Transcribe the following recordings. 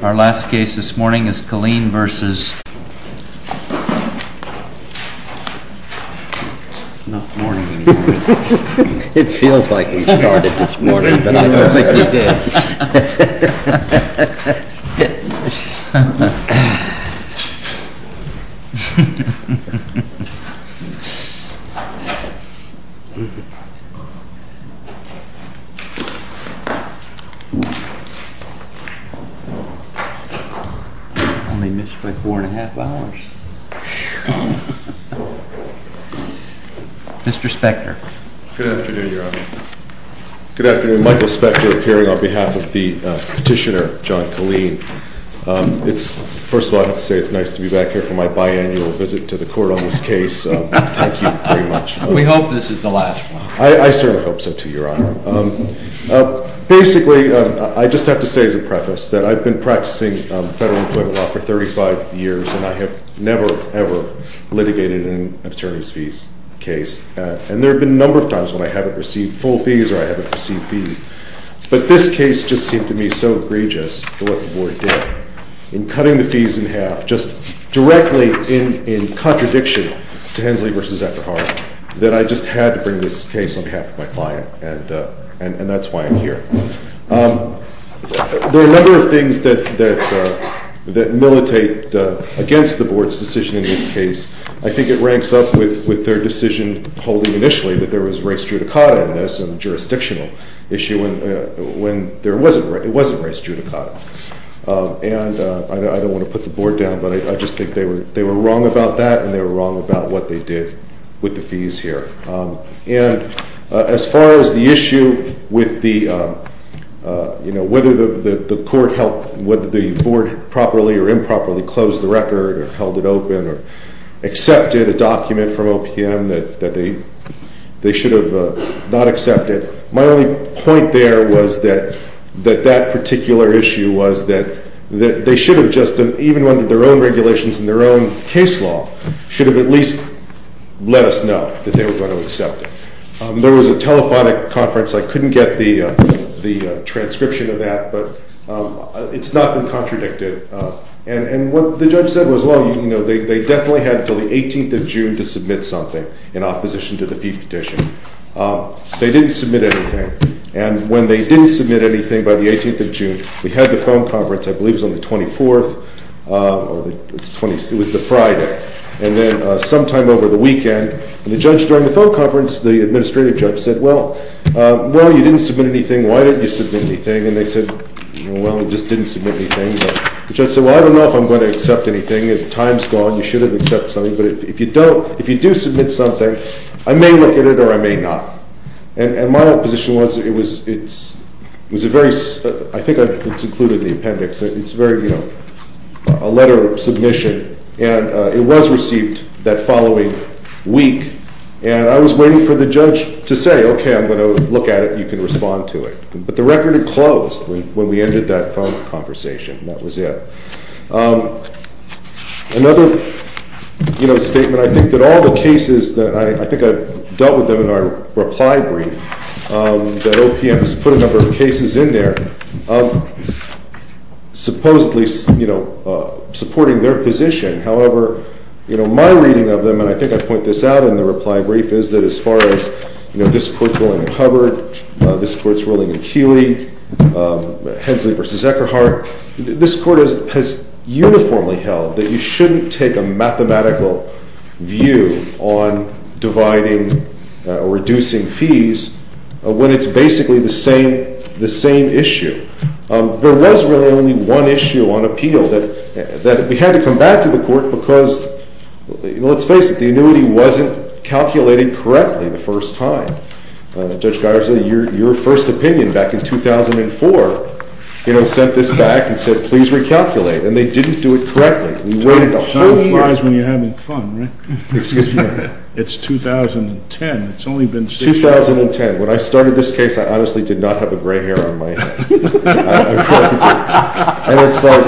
Our last case this morning is Killeen v. Michael Spector, appearing on behalf of the Petitioner, John Killeen. First of all, I have to say it's nice to be back here for my biannual visit to the Court on this case. Thank you very much. We hope this is the last one. I certainly hope so, too, Your Honor. Basically, I just have to say as a preface that I've been practicing federal employment law for 35 years, and I have never, ever litigated an attorney's fees case. And there have been a number of times when I haven't received full fees or I haven't received fees. But this case just seemed to me so egregious for what the Board did in cutting the fees in half, just directly in contradiction to Hensley v. Eckerhart, that I just had to bring this case on behalf of my client, and that's why I'm here. There are a number of things that militate against the Board's decision in this case. I think it ranks up with their decision holding initially that there was race judicata in this, a jurisdictional issue, when it wasn't race judicata. And I don't want to put the Board down, but I just think they were wrong about that, and they were wrong about what they did with the fees here. And as far as the issue with the, you know, whether the Court helped, whether the Board properly or improperly closed the record or held it open or accepted a document from OPM that they should have not accepted, my only point there was that that particular issue was that they should have just, even under their own regulations and their own case law, should have at least let us know that they were going to accept it. There was a telephonic conference. I couldn't get the transcription of that, but it's not been contradicted. And what the judge said was, well, you know, they definitely had until the 18th of June to submit something in opposition to the fee petition. They didn't submit anything. And when they didn't submit anything by the 18th of June, we had the phone conference, I believe it was on the 24th. It was the Friday. And then sometime over the weekend, the judge during the phone conference, the administrative judge, said, well, you didn't submit anything. Why didn't you submit anything? And they said, well, we just didn't submit anything. The judge said, well, I don't know if I'm going to accept anything. The time's gone. You should have accepted something. But if you don't, if you do submit something, I may look at it or I may not. And my position was it was, it was a very, I think it's included in the appendix. It's very, you know, a letter of submission. And it was received that following week. And I was waiting for the judge to say, okay, I'm going to look at it. You can respond to it. But the record had closed when we ended that phone conversation. That was it. Another, you know, statement, I think that all the cases that I, I think I've dealt with them in our reply brief, that OPM has put a number of cases in there, supposedly, you know, supporting their position. However, you know, my reading of them, and I think I point this out in the reply brief, is that as far as, you know, this court's ruling in Hubbard, this court's ruling in Keeley, Hensley v. Eckerhart, this court has uniformly held that you shouldn't take a mathematical view on dividing or reducing fees when it's basically the same issue. There was really only one issue on appeal that we had to come back to the court because, you know, let's face it, the annuity wasn't calculated correctly the first time. Judge Geiser, your first opinion back in 2004, you know, sent this back and said, please recalculate, and they didn't do it correctly. We waited a whole year. Time flies when you're having fun, right? Excuse me. It's 2010. It's only been six years. It's 2010. When I started this case, I honestly did not have a gray hair on my head. I really didn't. And it's like...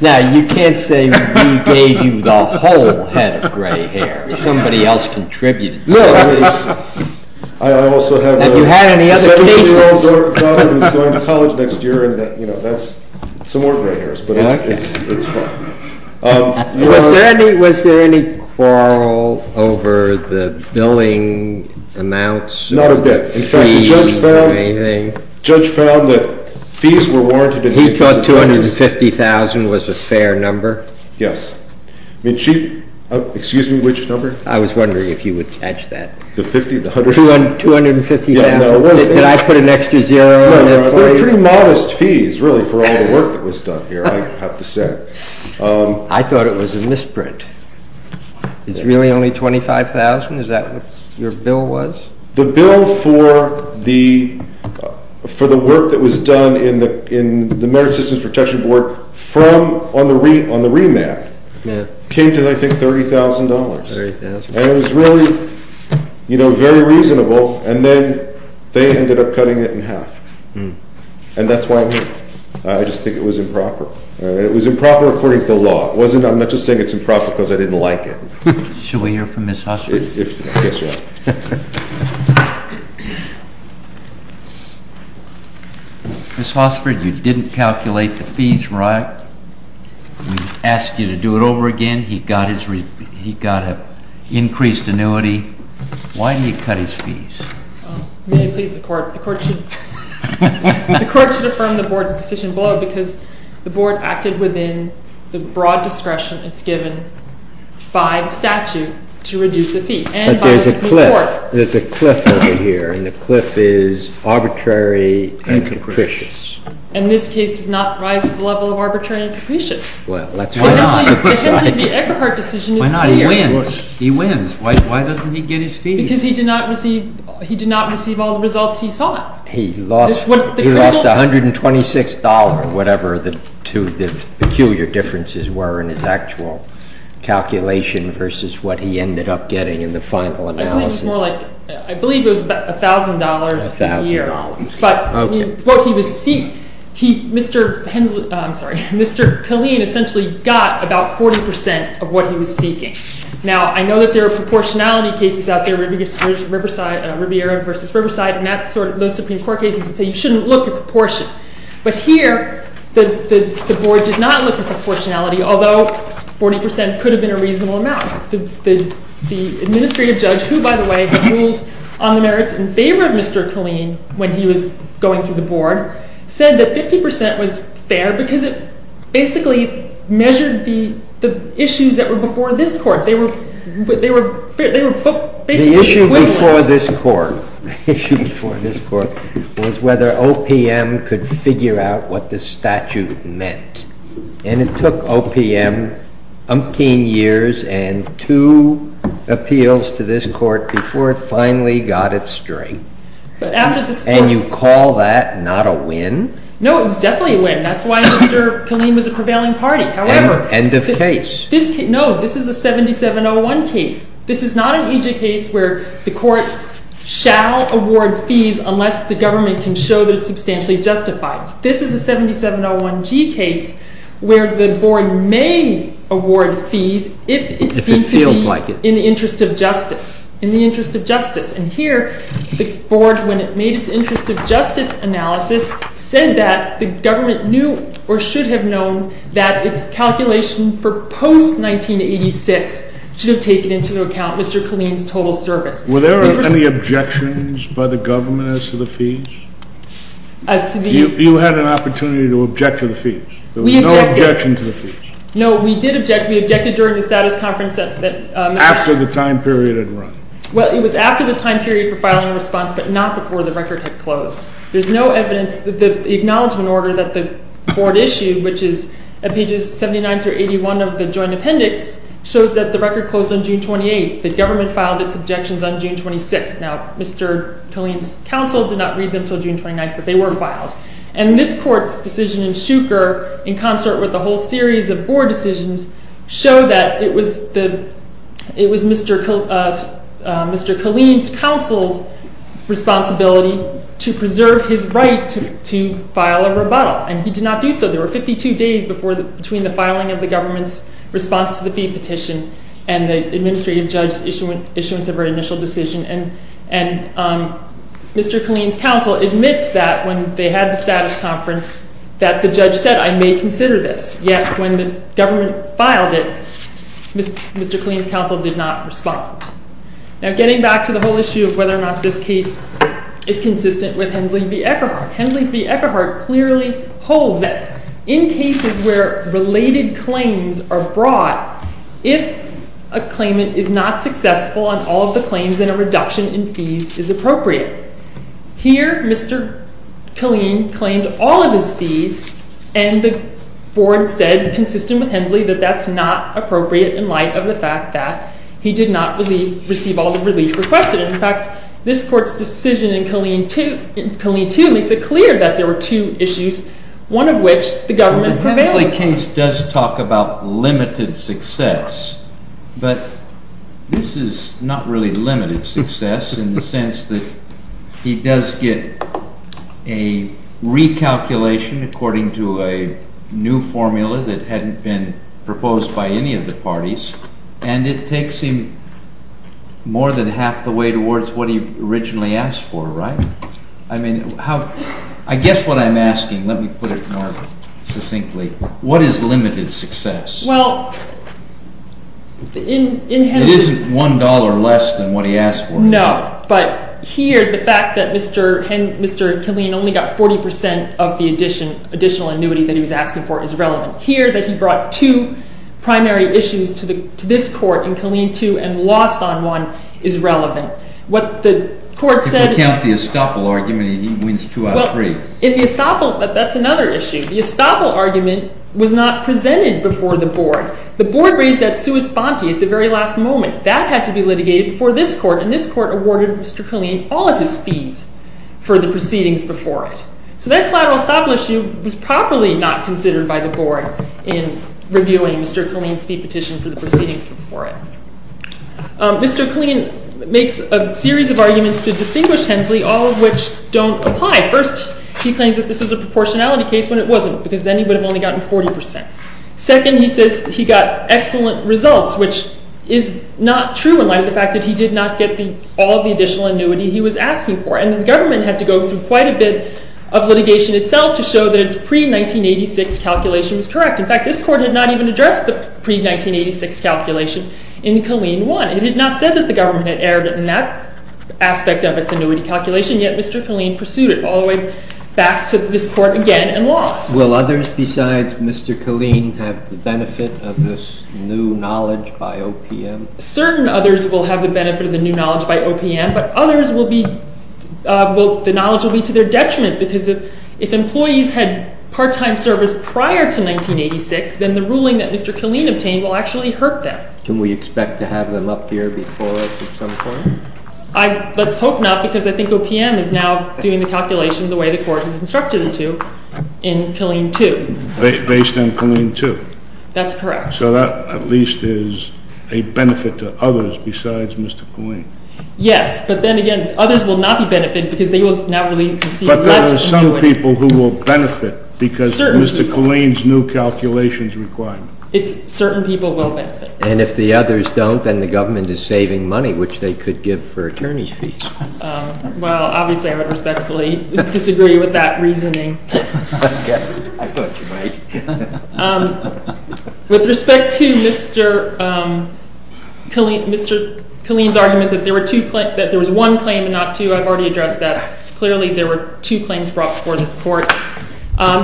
Now, you can't say we gave you the whole head of gray hair. Somebody else contributed to this. No, I also have... Have you had any other cases? My 17-year-old daughter is going to college next year, and, you know, that's some more gray hairs, but it's fine. Was there any quarrel over the billing amounts? Not a bit. In fact, the judge found that fees were warranted... He thought $250,000 was a fair number? Yes. I mean, she... Excuse me, which number? I was wondering if you would catch that. $250,000. Did I put an extra zero? They're pretty modest fees, really, for all the work that was done here, I have to say. I thought it was a misprint. It's really only $25,000? Is that what your bill was? The bill for the work that was done in the Merit Systems Protection Board on the remap came to, I think, $30,000. $30,000. And it was really, you know, very reasonable, and then they ended up cutting it in half. And that's why I'm here. I just think it was improper. And it was improper according to the law. I'm not just saying it's improper because I didn't like it. Should we hear from Ms. Hossford? Yes, yes. Ms. Hossford, you didn't calculate the fees right. We asked you to do it over again. He got an increased annuity. Why did he cut his fees? May it please the Court. The Court should affirm the Board's decision below because the Board acted within the broad discretion that's given by the statute to reduce a fee. But there's a cliff. There's a cliff over here, and the cliff is arbitrary and capricious. And this case does not rise to the level of arbitrary and capricious. Well, let's move on. The Eckerhart decision is here. Why not? He wins. He wins. Why doesn't he get his fees? Because he did not receive all the results he sought. He lost $126, whatever the two peculiar differences were in his actual calculation versus what he ended up getting in the final analysis. I think it was more like, I believe it was about $1,000 a year. $1,000. But what he was seeking, Mr. Killeen essentially got about 40% of what he was seeking. Now, I know that there are proportionality cases out there, Riviera v. Riverside, and those Supreme Court cases that say you shouldn't look at proportion. But here, the Board did not look at proportionality, although 40% could have been a reasonable amount. The administrative judge, who, by the way, had ruled on the merits in favor of Mr. Killeen when he was going through the Board, said that 50% was fair because it basically measured the issues that were before this Court. They were basically equal amounts. The issue before this Court was whether OPM could figure out what the statute meant. And it took OPM umpteen years and two appeals to this Court before it finally got its strength. And you call that not a win? No, it was definitely a win. That's why Mr. Killeen was a prevailing party. End of case. No, this is a 7701 case. This is not an EJ case where the Court shall award fees unless the government can show that it's substantially justified. This is a 7701G case where the Board may award fees if it seems to be in the interest of justice. And here, the Board, when it made its interest of justice analysis, said that the government knew or should have known that its calculation for post-1986 should have taken into account Mr. Killeen's total service. Were there any objections by the government as to the fees? You had an opportunity to object to the fees. We objected. There was no objection to the fees. No, we did object. We objected during the status conference. After the time period had run. Well, it was after the time period for filing a response, but not before the record had closed. There's no evidence that the acknowledgement order that the Board issued, which is at pages 79 through 81 of the joint appendix, shows that the record closed on June 28th. The government filed its objections on June 26th. Now, Mr. Killeen's counsel did not read them until June 29th, but they were filed. And this court's decision in Shuker, in concert with a whole series of Board decisions, showed that it was Mr. Killeen's counsel's responsibility to preserve his right to file a rebuttal. And he did not do so. There were 52 days between the filing of the government's response to the fee petition and the administrative judge's issuance of her initial decision. And Mr. Killeen's counsel admits that, when they had the status conference, that the judge said, I may consider this. Yet, when the government filed it, Mr. Killeen's counsel did not respond. Now, getting back to the whole issue of whether or not this case is consistent with Hensley v. Eckerhart. Hensley v. Eckerhart clearly holds that in cases where related claims are brought, if a claimant is not successful on all of the claims, then a reduction in fees is appropriate. Here, Mr. Killeen claimed all of his fees, and the Board said, consistent with Hensley, that that's not appropriate in light of the fact that he did not receive all the relief requested. In fact, this court's decision in Killeen 2 makes it clear that there were two issues, one of which the government prevailed. The Hensley case does talk about limited success, but this is not really limited success in the sense that he does get a recalculation according to a new formula that hadn't been proposed by any of the parties, and it takes him more than half the way towards what he originally asked for, right? I mean, I guess what I'm asking, let me put it more succinctly, what is limited success? Well, in Hensley It isn't $1 less than what he asked for. No, but here, the fact that Mr. Killeen only got 40% of the additional annuity that he was asking for is relevant. Here, that he brought two primary issues to this court in Killeen 2 and lost on one is relevant. If we count the estoppel argument, he wins two out of three. That's another issue. The estoppel argument was not presented before the board. The board raised that sua sponte at the very last moment. That had to be litigated before this court, and this court awarded Mr. Killeen all of his fees for the proceedings before it. So that collateral estoppel issue was properly not considered by the board in reviewing Mr. Killeen's fee petition for the proceedings before it. Mr. Killeen makes a series of arguments to distinguish Hensley, all of which don't apply. First, he claims that this was a proportionality case when it wasn't, because then he would have only gotten 40%. Second, he says he got excellent results, which is not true in light of the fact that he did not get all the additional annuity he was asking for. And the government had to go through quite a bit of litigation itself to show that its pre-1986 calculation was correct. In fact, this court had not even addressed the pre-1986 calculation in Killeen 1. It had not said that the government had erred in that aspect of its annuity calculation, yet Mr. Killeen pursued it all the way back to this court again and lost. Will others besides Mr. Killeen have the benefit of this new knowledge by OPM? Certain others will have the benefit of the new knowledge by OPM, but others will be—the knowledge will be to their detriment, because if employees had part-time service prior to 1986, then the ruling that Mr. Killeen obtained will actually hurt them. Can we expect to have them up here before us at some point? Let's hope not, because I think OPM is now doing the calculation the way the court has instructed it to in Killeen 2. Based on Killeen 2? That's correct. So that at least is a benefit to others besides Mr. Killeen? Yes, but then again, others will not be benefited because they will now receive less annuity. But there are some people who will benefit because of Mr. Killeen's new calculations requirement. Certain people will benefit. And if the others don't, then the government is saving money, which they could give for attorney's fees. Well, obviously I would respectfully disagree with that reasoning. I thought you might. With respect to Mr. Killeen's argument that there was one claim and not two, I've already addressed that. Clearly there were two claims brought before this court.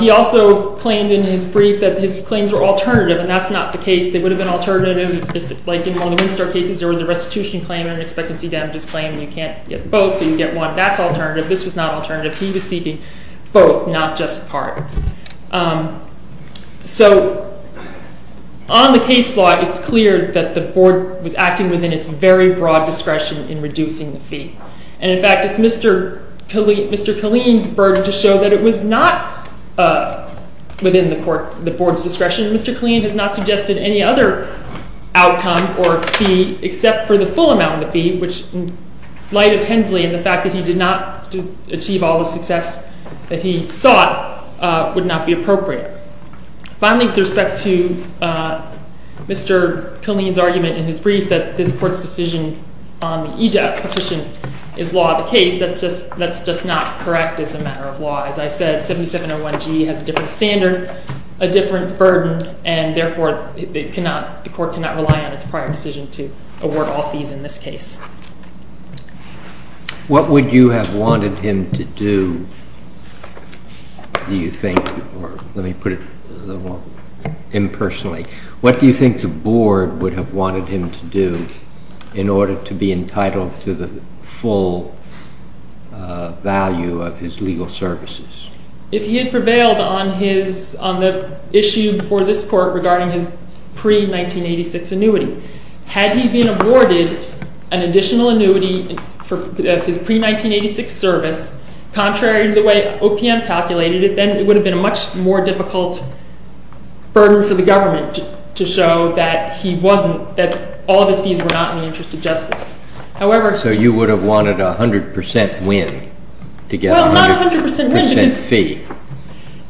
He also claimed in his brief that his claims were alternative, and that's not the case. They would have been alternative if, like in one of the Winstar cases, there was a restitution claim and an expectancy damages claim, and you can't get both, so you get one. That's alternative. This was not alternative. He was seeking both, not just part. So on the case law, it's clear that the board was acting within its very broad discretion in reducing the fee. And in fact, it's Mr. Killeen's burden to show that it was not within the board's discretion. Mr. Killeen has not suggested any other outcome or fee except for the full amount of the fee, which, in light of Hensley and the fact that he did not achieve all the success that he sought, would not be appropriate. Finally, with respect to Mr. Killeen's argument in his brief that this court's decision on the EJAP petition is law of the case, that's just not correct as a matter of law. As I said, 7701G has a different standard, a different burden, and therefore the court cannot rely on its prior decision to award all fees in this case. What would you have wanted him to do, do you think, or let me put it impersonally, what do you think the board would have wanted him to do in order to be entitled to the full value of his legal services? If he had prevailed on the issue before this court regarding his pre-1986 annuity, had he been awarded an additional annuity of his pre-1986 service, contrary to the way OPM calculated it, then it would have been a much more difficult burden for the government to show that he wasn't, that all of his fees were not in the interest of justice. So you would have wanted a 100% win to get a 100% fee? Well, not a 100% win, because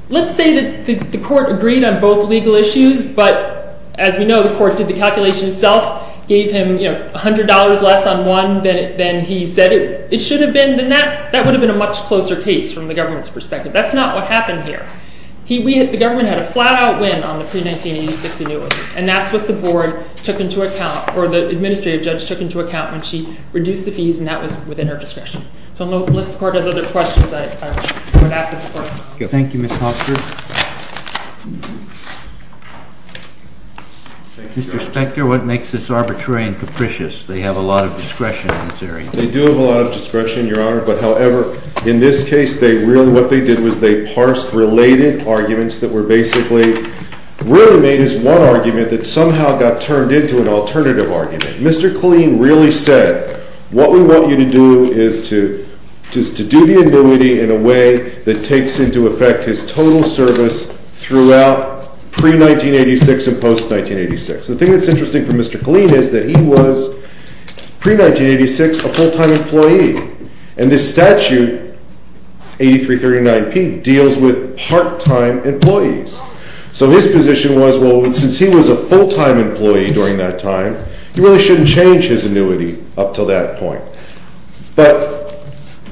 let's say that the court agreed on both legal issues, but as we know, the court did the calculation itself, gave him $100 less on one than he said it should have been, then that would have been a much closer case from the government's perspective. That's not what happened here. The government had a flat-out win on the pre-1986 annuity, and that's what the board took into account, or the administrative judge took into account when she reduced the fees, and that was within her discretion. So unless the court has other questions, I would ask that the court... Thank you, Ms. Hofstra. Mr. Spector, what makes this arbitrary and capricious? They have a lot of discretion in this area. They do have a lot of discretion, Your Honor, but however, in this case, what they did was they parsed related arguments that were basically really made as one argument that somehow got turned into an alternative argument. Mr. Killeen really said, what we want you to do is to do the annuity in a way that takes into effect his total service throughout pre-1986 and post-1986. The thing that's interesting for Mr. Killeen is that he was, pre-1986, a full-time employee, and this statute, 8339P, deals with part-time employees. So his position was, well, since he was a full-time employee during that time, he really shouldn't change his annuity up to that point. But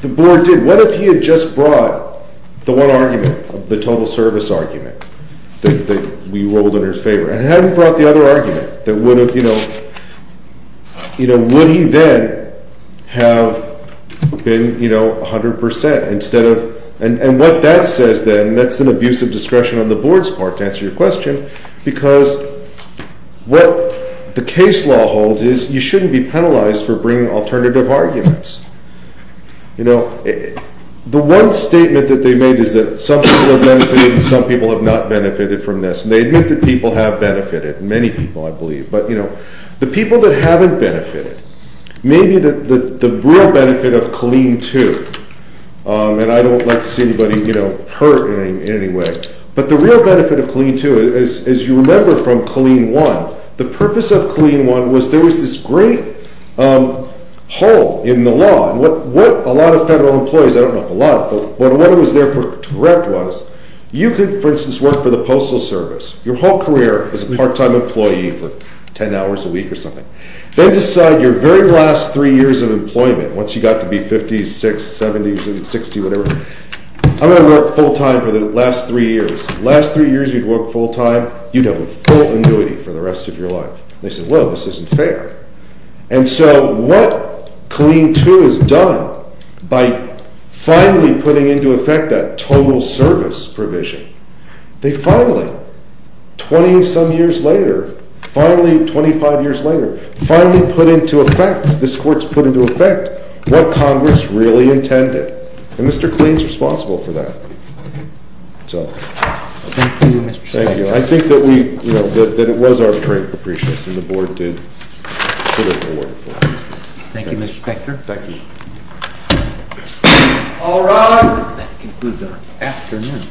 the board did. What if he had just brought the one argument, the total service argument that we rolled in his favor, and hadn't brought the other argument that would have, you know, would he then have been, you know, 100% instead of, and what that says then, that's an abuse of discretion on the board's part, to answer your question, because what the case law holds is you shouldn't be penalized for bringing alternative arguments. You know, the one statement that they made is that some people have benefited and some people have not benefited from this. And they admit that people have benefited, many people, I believe. But, you know, the people that haven't benefited, maybe the real benefit of Killeen 2, and I don't like to see anybody, you know, hurt in any way, but the real benefit of Killeen 2, as you remember from Killeen 1, the purpose of Killeen 1 was there was this great hole in the law, and what a lot of federal employees, I don't know if a lot of them, but what was there to correct was, you could, for instance, work for the Postal Service, your whole career as a part-time employee for 10 hours a week or something, then decide your very last three years of employment, once you got to be 56, 70, 60, whatever, I'm going to work full-time for the last three years. Last three years you'd work full-time, you'd have a full annuity for the rest of your life. They said, well, this isn't fair. And so what Killeen 2 has done by finally putting into effect that total service provision, they finally, 20-some years later, finally 25 years later, finally put into effect, this Court's put into effect what Congress really intended. And Mr. Killeen's responsible for that. That's all. Thank you, Mr. Spector. Thank you. I think that we, you know, that it was our great appreciation that the Board did put it forward for us. Thank you, Mr. Spector. Thank you. All rise. That concludes our afternoon.